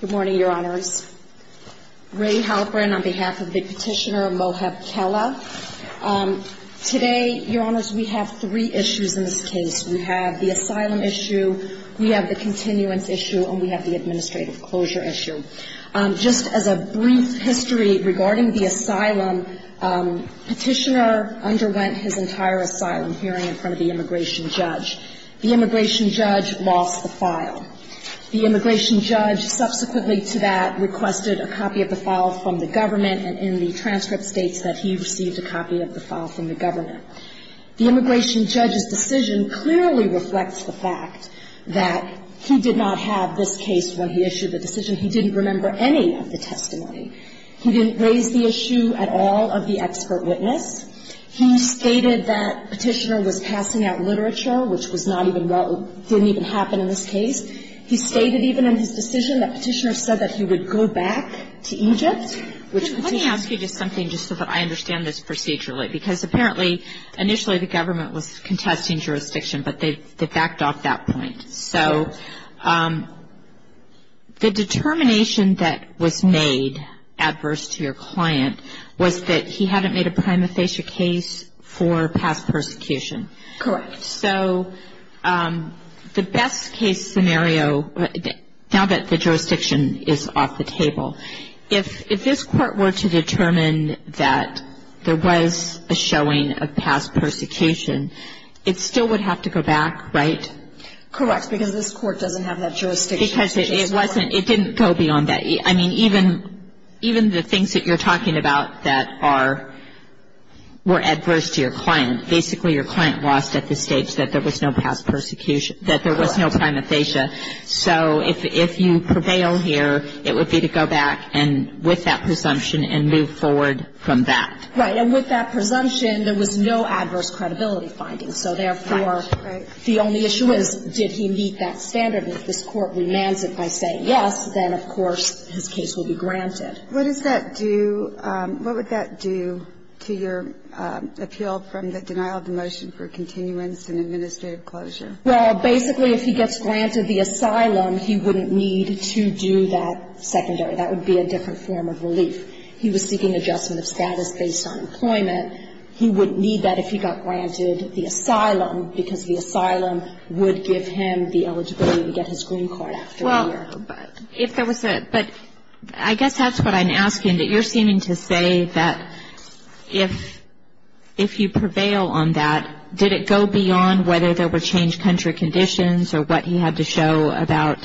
Good morning, Your Honors. Ray Halperin on behalf of the petitioner Mohab Khella. Today, Your Honors, we have three issues in this case. We have the asylum issue, we have the continuance issue, and we have the administrative closure issue. Just as a brief history regarding the asylum, petitioner underwent his entire asylum hearing in front of the immigration judge. The immigration judge lost the file. The immigration judge subsequently to that requested a copy of the file from the government, and in the transcript states that he received a copy of the file from the government. The immigration judge's decision clearly reflects the fact that he did not have this case when he issued the decision. He didn't remember any of the testimony. He didn't raise the issue at all of the expert witness. He stated that petitioner was passing out literature, which was not even, didn't even happen in this case. He stated even in his decision that petitioner said that he would go back to Egypt. Let me ask you just something just so that I understand this procedurally. Because apparently, initially the government was contesting jurisdiction, but they backed off that point. So the determination that was made adverse to your client was that he hadn't made a prima facie case for past persecution. Correct. So the best case scenario, now that the jurisdiction is off the table, if this court were to determine that there was a showing of past persecution, it still would have to go back, right? Correct. Because this court doesn't have that jurisdiction. Because it wasn't, it didn't go beyond that. I mean, even the things that you're talking about that are, were adverse to your client, basically your client lost at the stage that there was no past persecution, that there was no prima facie. So if you prevail here, it would be to go back and with that presumption and move forward from that. Right. And with that presumption, there was no adverse credibility findings. Right. So therefore, the only issue is, did he meet that standard? And if this court remands it by saying yes, then of course his case will be granted. What does that do, what would that do to your appeal from the denial of the motion for continuance and administrative closure? Well, basically if he gets granted the asylum, he wouldn't need to do that secondary. That would be a different form of relief. He was seeking adjustment of status based on employment. He wouldn't need that if he got granted the asylum, because the asylum would give him the eligibility to get his green card after a year. Well, if there was a, but I guess that's what I'm asking. You're seeming to say that if, if you prevail on that, did it go beyond whether there were changed country conditions or what he had to show about.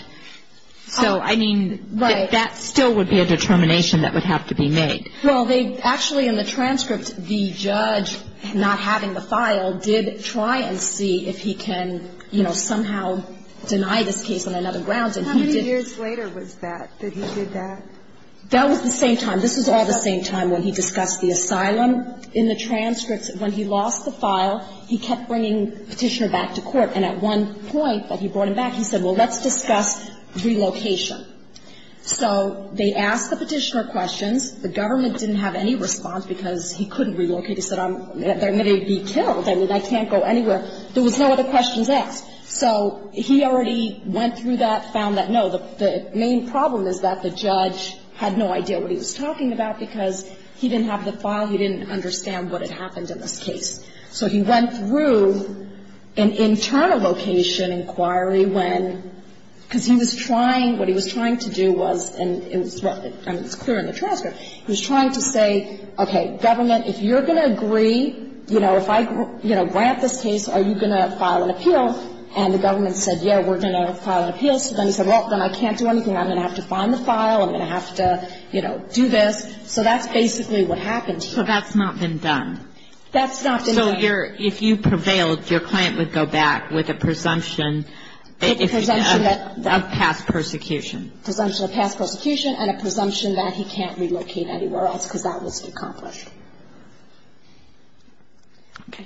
So, I mean, that still would be a determination that would have to be made. Well, they actually, in the transcript, the judge, not having the file, did try and see if he can, you know, somehow deny this case on another grounds. And he did. How many years later was that, that he did that? That was the same time. This was all the same time when he discussed the asylum. In the transcripts, when he lost the file, he kept bringing Petitioner back to court. And at one point, when he brought him back, he said, well, let's discuss relocation. So they asked the Petitioner questions. The government didn't have any response because he couldn't relocate. He said, I'm, I'm going to be killed. I mean, I can't go anywhere. There was no other questions asked. So he already went through that, found that. No, the main problem is that the judge had no idea what he was talking about because he didn't have the file. He didn't understand what had happened in this case. So he went through an internal location inquiry when, because he was trying, what he was trying to do was, and it was clear in the transcript, he was trying to say, okay, government, if you're going to agree, you know, if I grant this case, are you going to file an appeal? And the government said, yeah, we're going to file an appeal. So then he said, well, then I can't do anything. I'm going to have to find the file. I'm going to have to, you know, do this. So that's basically what happened here. So that's not been done. That's not been done. So you're, if you prevailed, your client would go back with a presumption of past persecution. Presumption of past persecution and a presumption that he can't relocate anywhere else because that was accomplished. Okay.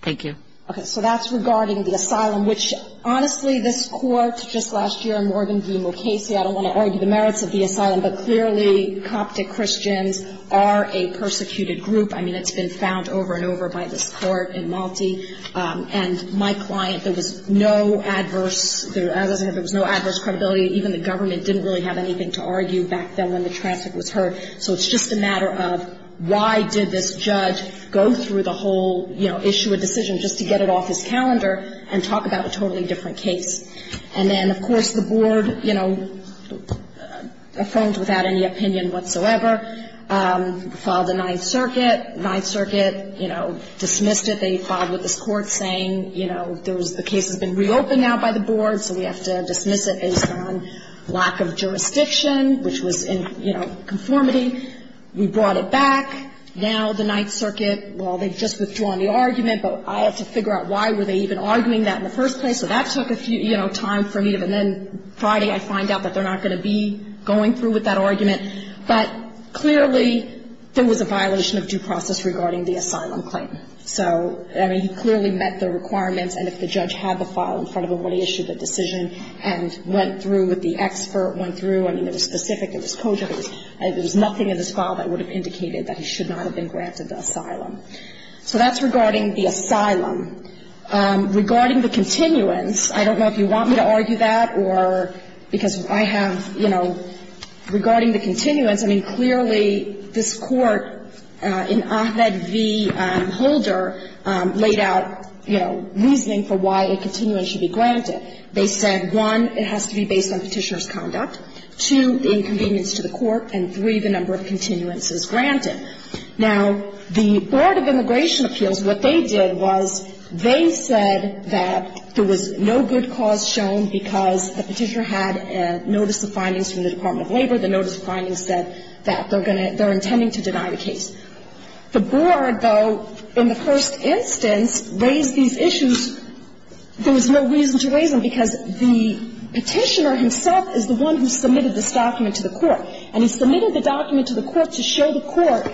Thank you. Okay. So that's regarding the asylum, which, honestly, this Court, just last year, Morgan v. Mulcasey, I don't want to argue the merits of the asylum, but clearly Coptic Christians are a persecuted group. I mean, it's been found over and over by this Court in Malte. And I think this Court's judgment is that there is a lot of different ways in which this Court can do that, and there was no adverse credibility. And my client, there was no adverse, as I said, there was no adverse credibility. Even the government didn't really have anything to argue back then when the transfer was heard. So it's just a matter of why did this judge go through the whole, you know, issue a decision just to get it off his calendar and talk about a totally different case. And then, of course, the Board, you know, affirmed without any opinion whatsoever, filed the Ninth Circuit. Ninth Circuit, you know, dismissed it. They filed with this Court saying, you know, the case has been reopened now by the Board, so we have to dismiss it based on lack of jurisdiction, which was in, you know, conformity. We brought it back. Now the Ninth Circuit, well, they've just withdrawn the argument, but I have to figure out why were they even arguing that in the first place. So that took a few, you know, time for me to, and then Friday, I find out that they're not going to be going through with that argument. But clearly, there was a violation of due process regarding the asylum claim. So, I mean, he clearly met the requirements, and if the judge had the file in front of him when he issued the decision and went through with the expert, went through – I mean, it was specific, it was cogent, it was – there was nothing in this file that would have indicated that he should not have been granted the asylum. So that's regarding the asylum. Regarding the continuance, I don't know if you want me to argue that or – because I have, you know – regarding the continuance, I mean, clearly this Court, in Ahmed v. Holder, laid out, you know, reasoning for why a continuance should be granted. They said, one, it has to be based on Petitioner's conduct, two, the inconvenience to the Court, and three, the number of continuances granted. Now, the Board of Immigration Appeals, what they did was they said that there was no good cause shown because the Petitioner had notice of findings from the Department of Labor, the notice of findings said that they're going to – they're intending to deny the case. The Board, though, in the first instance, raised these issues. There was no reason to raise them because the Petitioner himself is the one who submitted this document to the Court. And he submitted the document to the Court to show the Court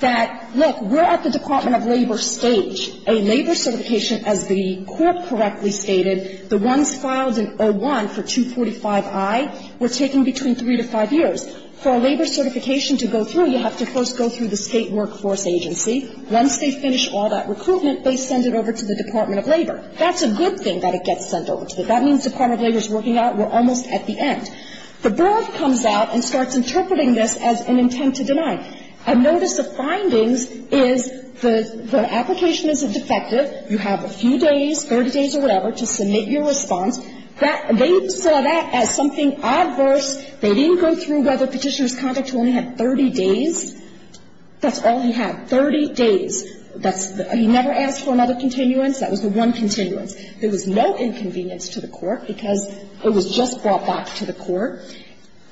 that, look, we're at the Department of Labor stage. A labor certification, as the Court correctly stated, the ones filed in 01 for 245i were taking between three to five years. For a labor certification to go through, you have to first go through the State Workforce Agency. Once they finish all that recruitment, they send it over to the Department of Labor. That's a good thing that it gets sent over to them. That means the Department of Labor is working out, we're almost at the end. The Board comes out and starts interpreting this as an intent to deny. A notice of findings is the application isn't defective. You have a few days, 30 days or whatever, to submit your response. That – they saw that as something adverse. They didn't go through whether Petitioner's conduct only had 30 days. That's all he had, 30 days. That's the – he never asked for another continuance. That was the one continuance. There was no inconvenience to the Court because it was just brought back to the Court.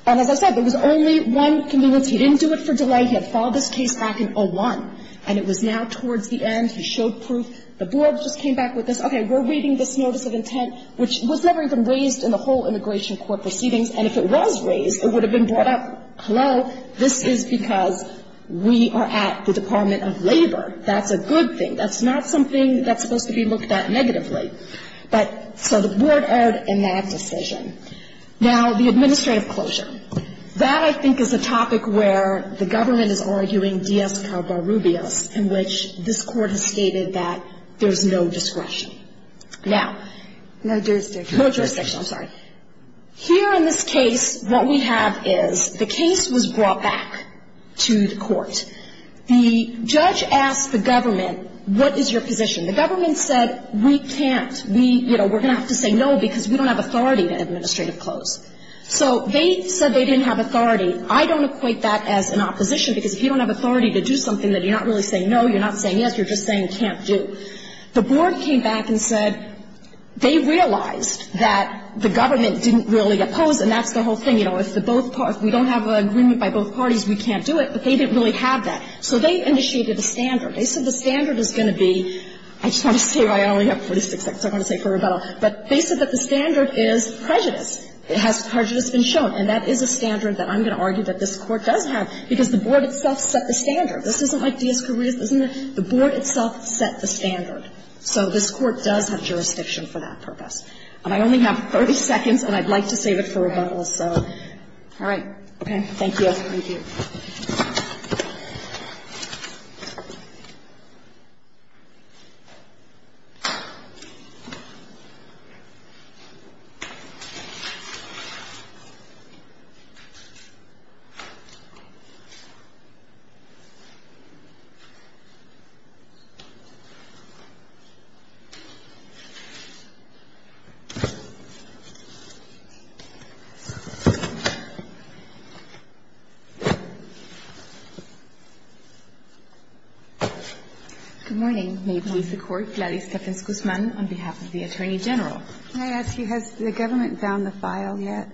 And as I said, there was only one continuance. He didn't do it for delay. He had filed this case back in 01, and it was now towards the end. He showed proof. The Board just came back with this, okay, we're reading this notice of intent, which was never even raised in the whole immigration court proceedings. And if it was raised, it would have been brought up, hello, this is because we are at the Department of Labor. That's a good thing. That's not something that's supposed to be looked at negatively. But – so the Board erred in that decision. Now, the administrative closure. That, I think, is a topic where the government is arguing dies carborubias, in which this Court has stated that there's no discretion. Now – No jurisdiction. No jurisdiction. I'm sorry. Here in this case, what we have is the case was brought back to the Court. The judge asked the government, what is your position? The government said, we can't. We, you know, we're going to have to say no because we don't have authority to administrative close. So they said they didn't have authority. I don't equate that as an opposition, because if you don't have authority to do something that you're not really saying no, you're not saying yes, you're just saying can't do. The Board came back and said they realized that the government didn't really oppose, and that's the whole thing. You know, if the both – if we don't have an agreement by both parties, we can't do it, but they didn't really have that. So they initiated a standard. They said the standard is going to be – I just want to say, I only have 46 seconds. I'm going to say it for rebuttal. But they said that the standard is prejudice. Prejudice has been shown. And that is a standard that I'm going to argue that this Court does have, because the Board itself set the standard. This isn't like dies carborubias, isn't it? The Board itself set the standard. So this Court does have jurisdiction for that purpose. And I only have 30 seconds, and I'd like to save it for rebuttal, so. All right. Okay. Thank you. Thank you. Thank you. Good morning. May it please the Court. Gladys Stephens-Guzman on behalf of the Attorney General. May I ask you, has the government found the file yet?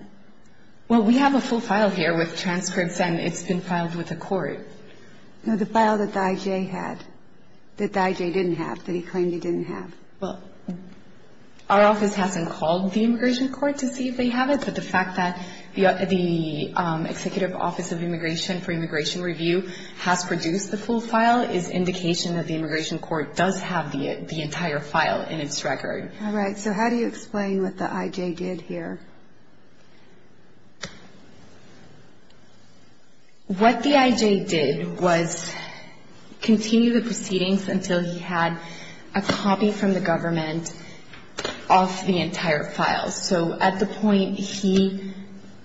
Well, we have a full file here with transcripts, and it's been filed with the Court. No, the file that the IJ had – that the IJ didn't have, that he claimed he didn't have. Well, our office hasn't called the Immigration Court to see if they have it, but the fact Thank you. Thank you. Thank you. Thank you. Thank you. Thank you. Thank you. Thank you. has produced the full file is indication that the Immigration Court does have the entire file in its record. All right. So how do you explain what the IJ did here? What the IJ did was continue the proceedings until he had a copy from the government of the entire file. So at the point he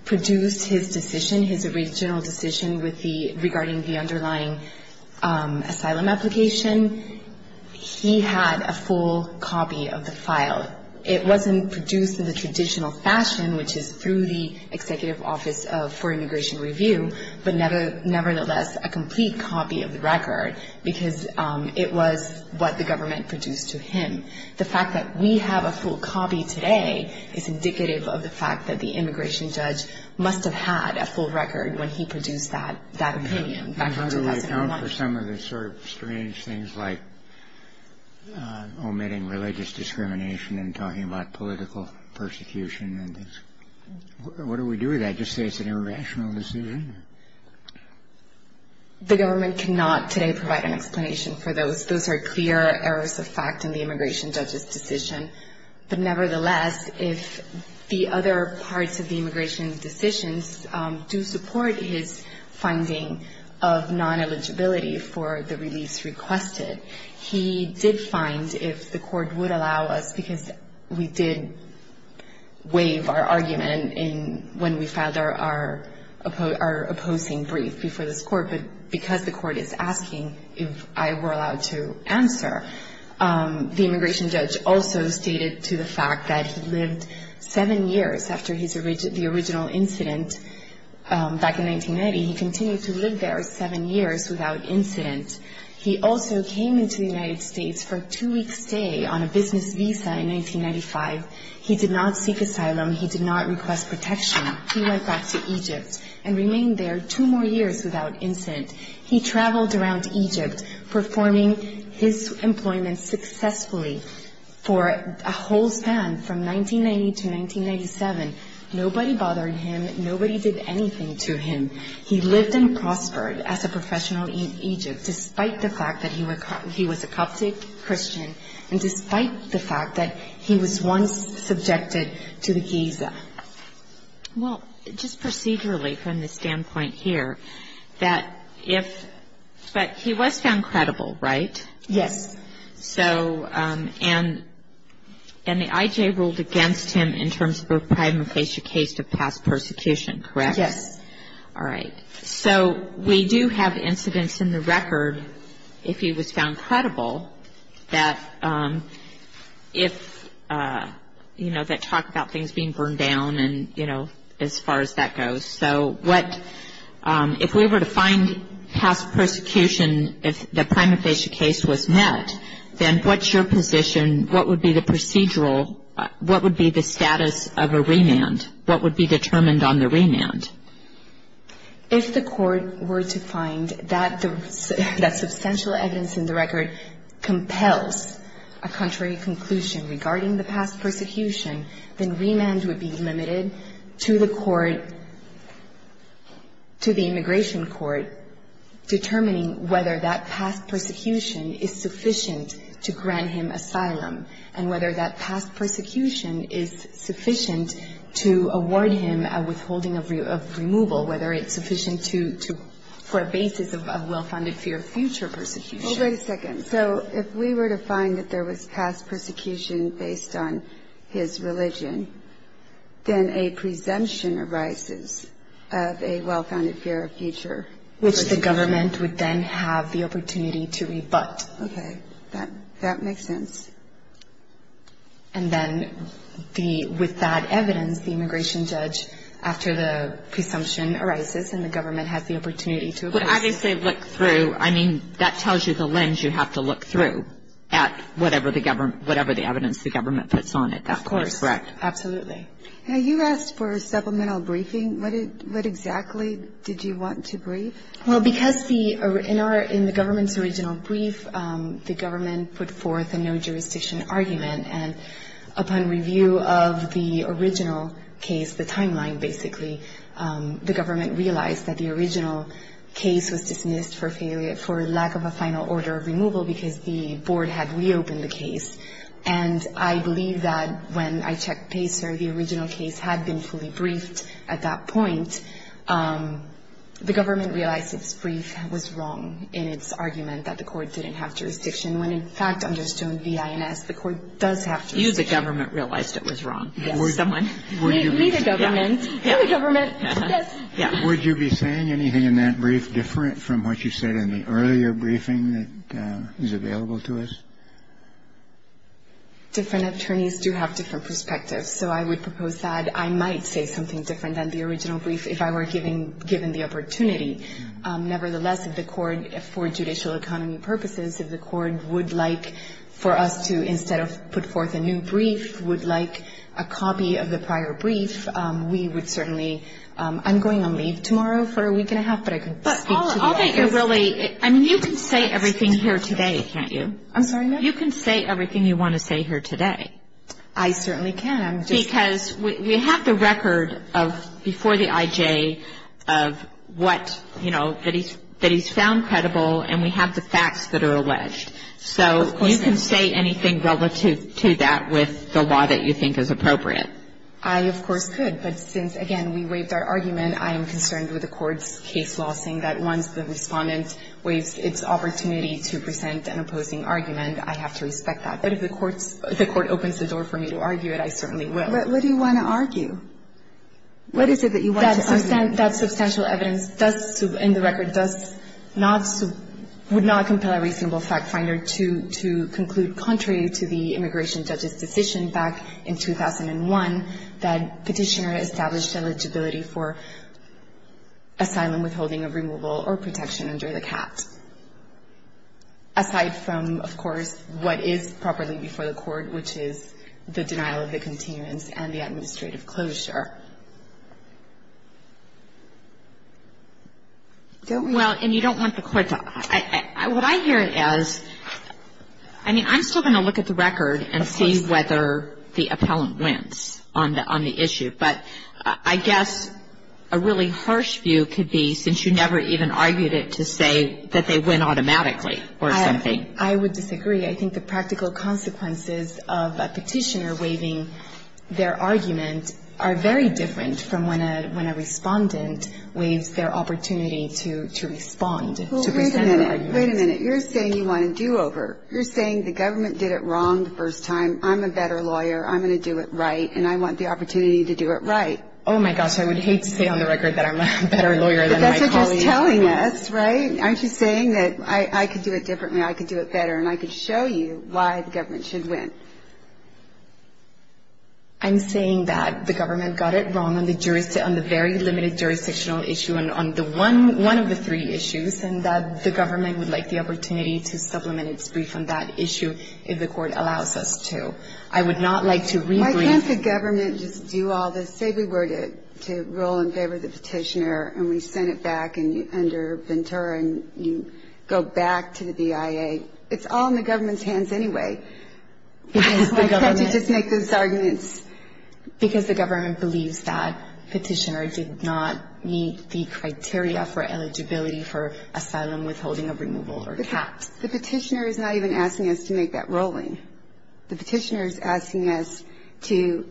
produced his decision, his original decision regarding the underlying asylum application, he had a full copy of the file. It wasn't produced in the traditional fashion, which is through the Executive Office for Immigration Review, but nevertheless a complete copy of the record because it was what the government produced to him. The fact that we have a full copy today is indicative of the fact that the immigration judge must have had a full record when he produced that opinion back in 2001. And how do we account for some of the sort of strange things like omitting religious discrimination and talking about political persecution and things? What do we do with that? Just say it's an irrational decision? The government cannot today provide an explanation for those. Those are clear errors of fact in the immigration judge's decision. But nevertheless, if the other parts of the immigration decisions do support his finding of non-eligibility for the release requested, he did find if the court would allow us, because we did waive our argument when we filed our opposing brief before this court, but because the court is asking if I were allowed to answer, the immigration judge also stated to the fact that he lived seven years after the original incident back in 1990. He continued to live there seven years without incident. He also came into the United States for a two-week stay on a business visa in 1995. He did not seek asylum. He did not request protection. He went back to Egypt and remained there two more years without incident. He traveled around Egypt performing his employment successfully for a whole span from 1990 to 1997. Nobody bothered him. Nobody did anything to him. He lived and prospered as a professional in Egypt despite the fact that he was a Coptic Christian and despite the fact that he was once subjected to the Giza. Well, just procedurally from the standpoint here, that if he was found credible, right? Yes. So, and the IJ ruled against him in terms of a prima facie case of past persecution, correct? Yes. All right. So we do have incidents in the record if he was found credible that if, you know, that talk about things being burned down and, you know, as far as that goes. So what, if we were to find past persecution, if the prima facie case was met, then what's your position? What would be the procedural, what would be the status of a remand? And what would be determined on the remand? If the court were to find that substantial evidence in the record compels a contrary conclusion regarding the past persecution, then remand would be limited to the court, to the immigration court, determining whether that past persecution is sufficient to grant him asylum and whether that past persecution is sufficient to award him a withholding of removal, whether it's sufficient to, for a basis of well-founded fear of future persecution. Well, wait a second. So if we were to find that there was past persecution based on his religion, then a presumption arises of a well-founded fear of future persecution. Which the government would then have the opportunity to rebut. Okay. That makes sense. And then with that evidence, the immigration judge, after the presumption arises and the government has the opportunity to rebut. But obviously look through, I mean, that tells you the lens you have to look through at whatever the evidence the government puts on it. Of course. That's correct. Absolutely. Now, you asked for a supplemental briefing. What exactly did you want to brief? Well, because in the government's original brief, the government put forth a no-jurisdiction argument. And upon review of the original case, the timeline basically, the government realized that the original case was dismissed for lack of a final order of removal because the board had reopened the case. And I believe that when I checked PACER, the original case had been fully briefed at that point. The government realized its brief was wrong in its argument that the court didn't have jurisdiction. When, in fact, under Stone v. INS, the court does have jurisdiction. You, the government, realized it was wrong. Yes. Or someone. We, the government. We, the government. Yes. Would you be saying anything in that brief different from what you said in the earlier briefing that is available to us? Different attorneys do have different perspectives. So I would propose that I might say something different than the original brief if I were given the opportunity. Nevertheless, if the court, for judicial economy purposes, if the court would like for us to instead of put forth a new brief, would like a copy of the prior brief, we would certainly ‑‑ I'm going on leave tomorrow for a week and a half, but I can speak to the others. But all that you're really ‑‑ I mean, you can say everything here today, can't you? I'm sorry? You can say everything you want to say here today. I certainly can. Because we have the record of, before the IJ, of what, you know, that he's found credible, and we have the facts that are alleged. So you can say anything relative to that with the law that you think is appropriate. I, of course, could. But since, again, we waived our argument, I am concerned with the court's case law, saying that once the Respondent waives its opportunity to present an opposing argument, I have to respect that. But if the court opens the door for me to argue it, I certainly will. But what do you want to argue? What is it that you want to argue? That substantial evidence does, in the record, does not ‑‑ would not compel a reasonable fact finder to conclude contrary to the immigration judge's decision back in 2001, that Petitioner established eligibility for asylum withholding of removal or protection under the CAT. Aside from, of course, what is properly before the court, which is the denial of the continuance and the administrative closure. Don't we ‑‑ Well, and you don't want the court to ‑‑ what I hear is, I mean, I'm still going to look at the record and see whether the appellant wins on the issue. But I guess a really harsh view could be, since you never even argued it, to say that they win automatically or something. I would disagree. I think the practical consequences of a Petitioner waiving their argument are very different from when a Respondent waives their opportunity to respond, to present an argument. Well, wait a minute. Wait a minute. You're saying you want a do‑over. You're saying the government did it wrong the first time. I'm a better lawyer. I'm going to do it right. And I want the opportunity to do it right. Oh, my gosh. I would hate to say on the record that I'm a better lawyer than my colleagues. But that's what you're telling us, right? Aren't you saying that I could do it differently, I could do it better, and I could show you why the government should win? I'm saying that the government got it wrong on the very limited jurisdictional issue and on one of the three issues and that the government would like the opportunity to supplement its brief on that issue if the court allows us to. I would not like to rebrief. Why can't the government just do all this? Say we were to roll in favor of the Petitioner and we sent it back under Ventura and you go back to the BIA. It's all in the government's hands anyway. Why can't you just make those arguments? Because the government believes that Petitioner did not meet the criteria for eligibility for asylum withholding of removal or caps. The Petitioner is not even asking us to make that rolling. The Petitioner is asking us to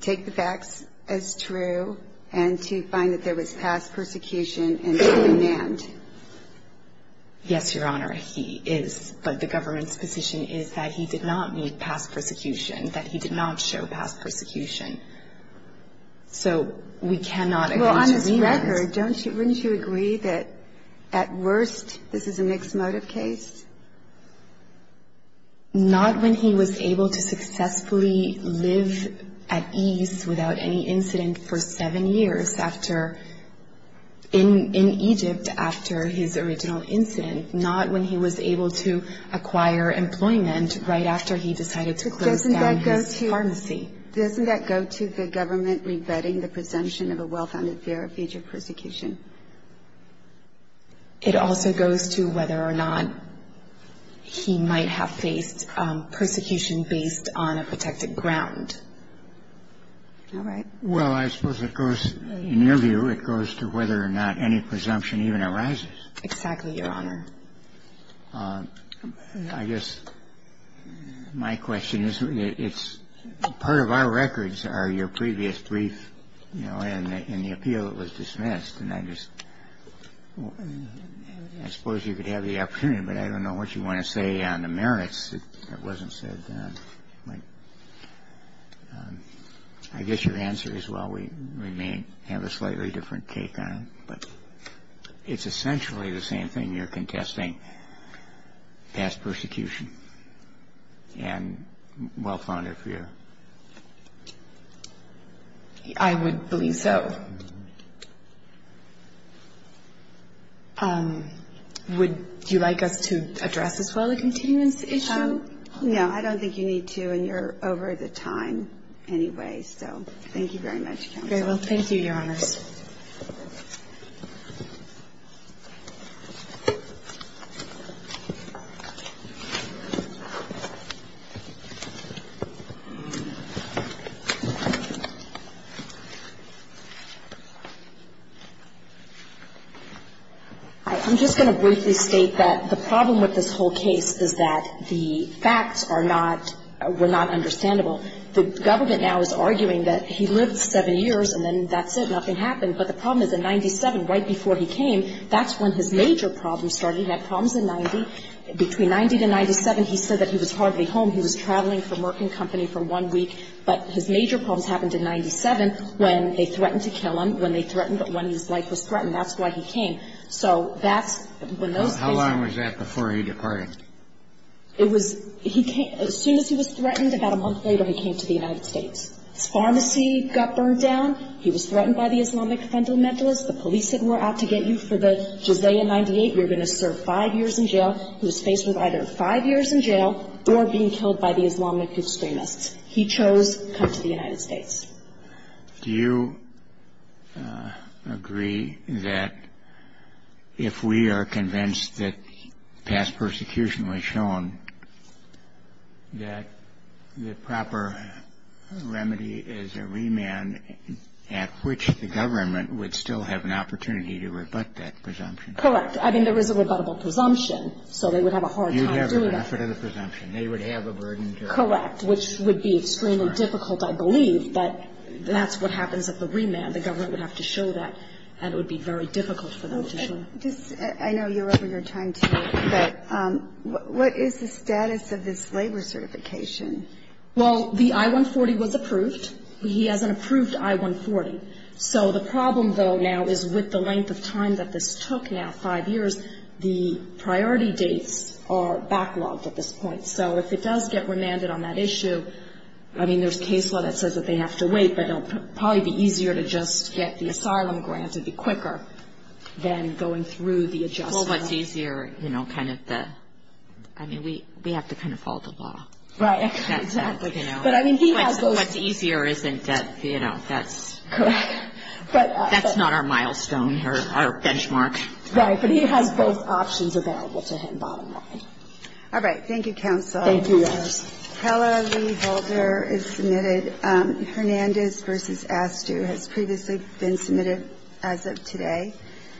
take the facts as true and to find that there was past persecution and demand. Yes, Your Honor, he is. But the government's position is that he did not meet past persecution, that he did not show past persecution. However, don't you, wouldn't you agree that at worst this is a mixed motive case? Not when he was able to successfully live at ease without any incident for seven years after, in Egypt after his original incident. Not when he was able to acquire employment right after he decided to close down his pharmacy. Doesn't that go to the government revetting the presumption of a well-founded fear of future persecution? It also goes to whether or not he might have faced persecution based on a protected ground. All right? Well, I suppose it goes, in your view, it goes to whether or not any presumption even arises. Exactly, Your Honor. I guess my question is, it's part of our records are your previous brief, you know, and the appeal that was dismissed. And I just, I suppose you could have the opportunity, but I don't know what you want to say on the merits. It wasn't said. I guess your answer is, well, we may have a slightly different take on it. But it's essentially the same thing. You're contesting past persecution and well-founded fear. I would believe so. Would you like us to address as well the continuance issue? No, I don't think you need to, and you're over the time anyway. So thank you very much, Counsel. Very well. Thank you, Your Honors. I'm just going to briefly state that the problem with this whole case is that the facts are not, were not understandable. The government now is arguing that he lived seven years and then that's it, nothing happened. But the problem is in 97, right before he came, that's when his major problems started. He had problems in 90. Between 90 to 97, he said that he was hardly home. He was traveling from work and company for one week. But his major problems happened in 97 when they threatened to kill him, when they threatened when his life was threatened. That's why he came. So that's when those cases. How long was that before he departed? It was, he came, as soon as he was threatened, about a month later he came to the United States. His pharmacy got burned down. He was threatened by the Islamic fundamentalists. The police said we're out to get you for the Jizaya 98. You're going to serve five years in jail. He was faced with either five years in jail or being killed by the Islamic extremists. He chose to come to the United States. Do you agree that if we are convinced that past persecution was shown, that the proper remedy is a remand at which the government would still have an opportunity to rebut that presumption? Correct. I mean, there is a rebuttable presumption. So they would have a hard time doing that. You'd have the benefit of the presumption. They would have a burden to... Correct. Which would be extremely difficult, I believe, but that's what happens at the remand. The government would have to show that, and it would be very difficult for them to show. Okay. I know you're over your time, too, but what is the status of this labor certification? Well, the I-140 was approved. He has an approved I-140. So the problem, though, now is with the length of time that this took now, five years, the priority dates are backlogged at this point. So if it does get remanded on that issue, I mean, there's case law that says that they have to wait, but it will probably be easier to just get the asylum grant and be quicker than going through the adjustment. Well, what's easier, you know, kind of the, I mean, we have to kind of follow the law. Right. Exactly. But I mean, he has those... What's easier isn't, you know, that's... Correct. That's not our milestone or our benchmark. Right. But he has both options available to him, bottom line. All right. Thank you, Counsel. Thank you, guys. Hella Lee Halter is submitted. Hernandez versus Astew has previously been submitted as of today.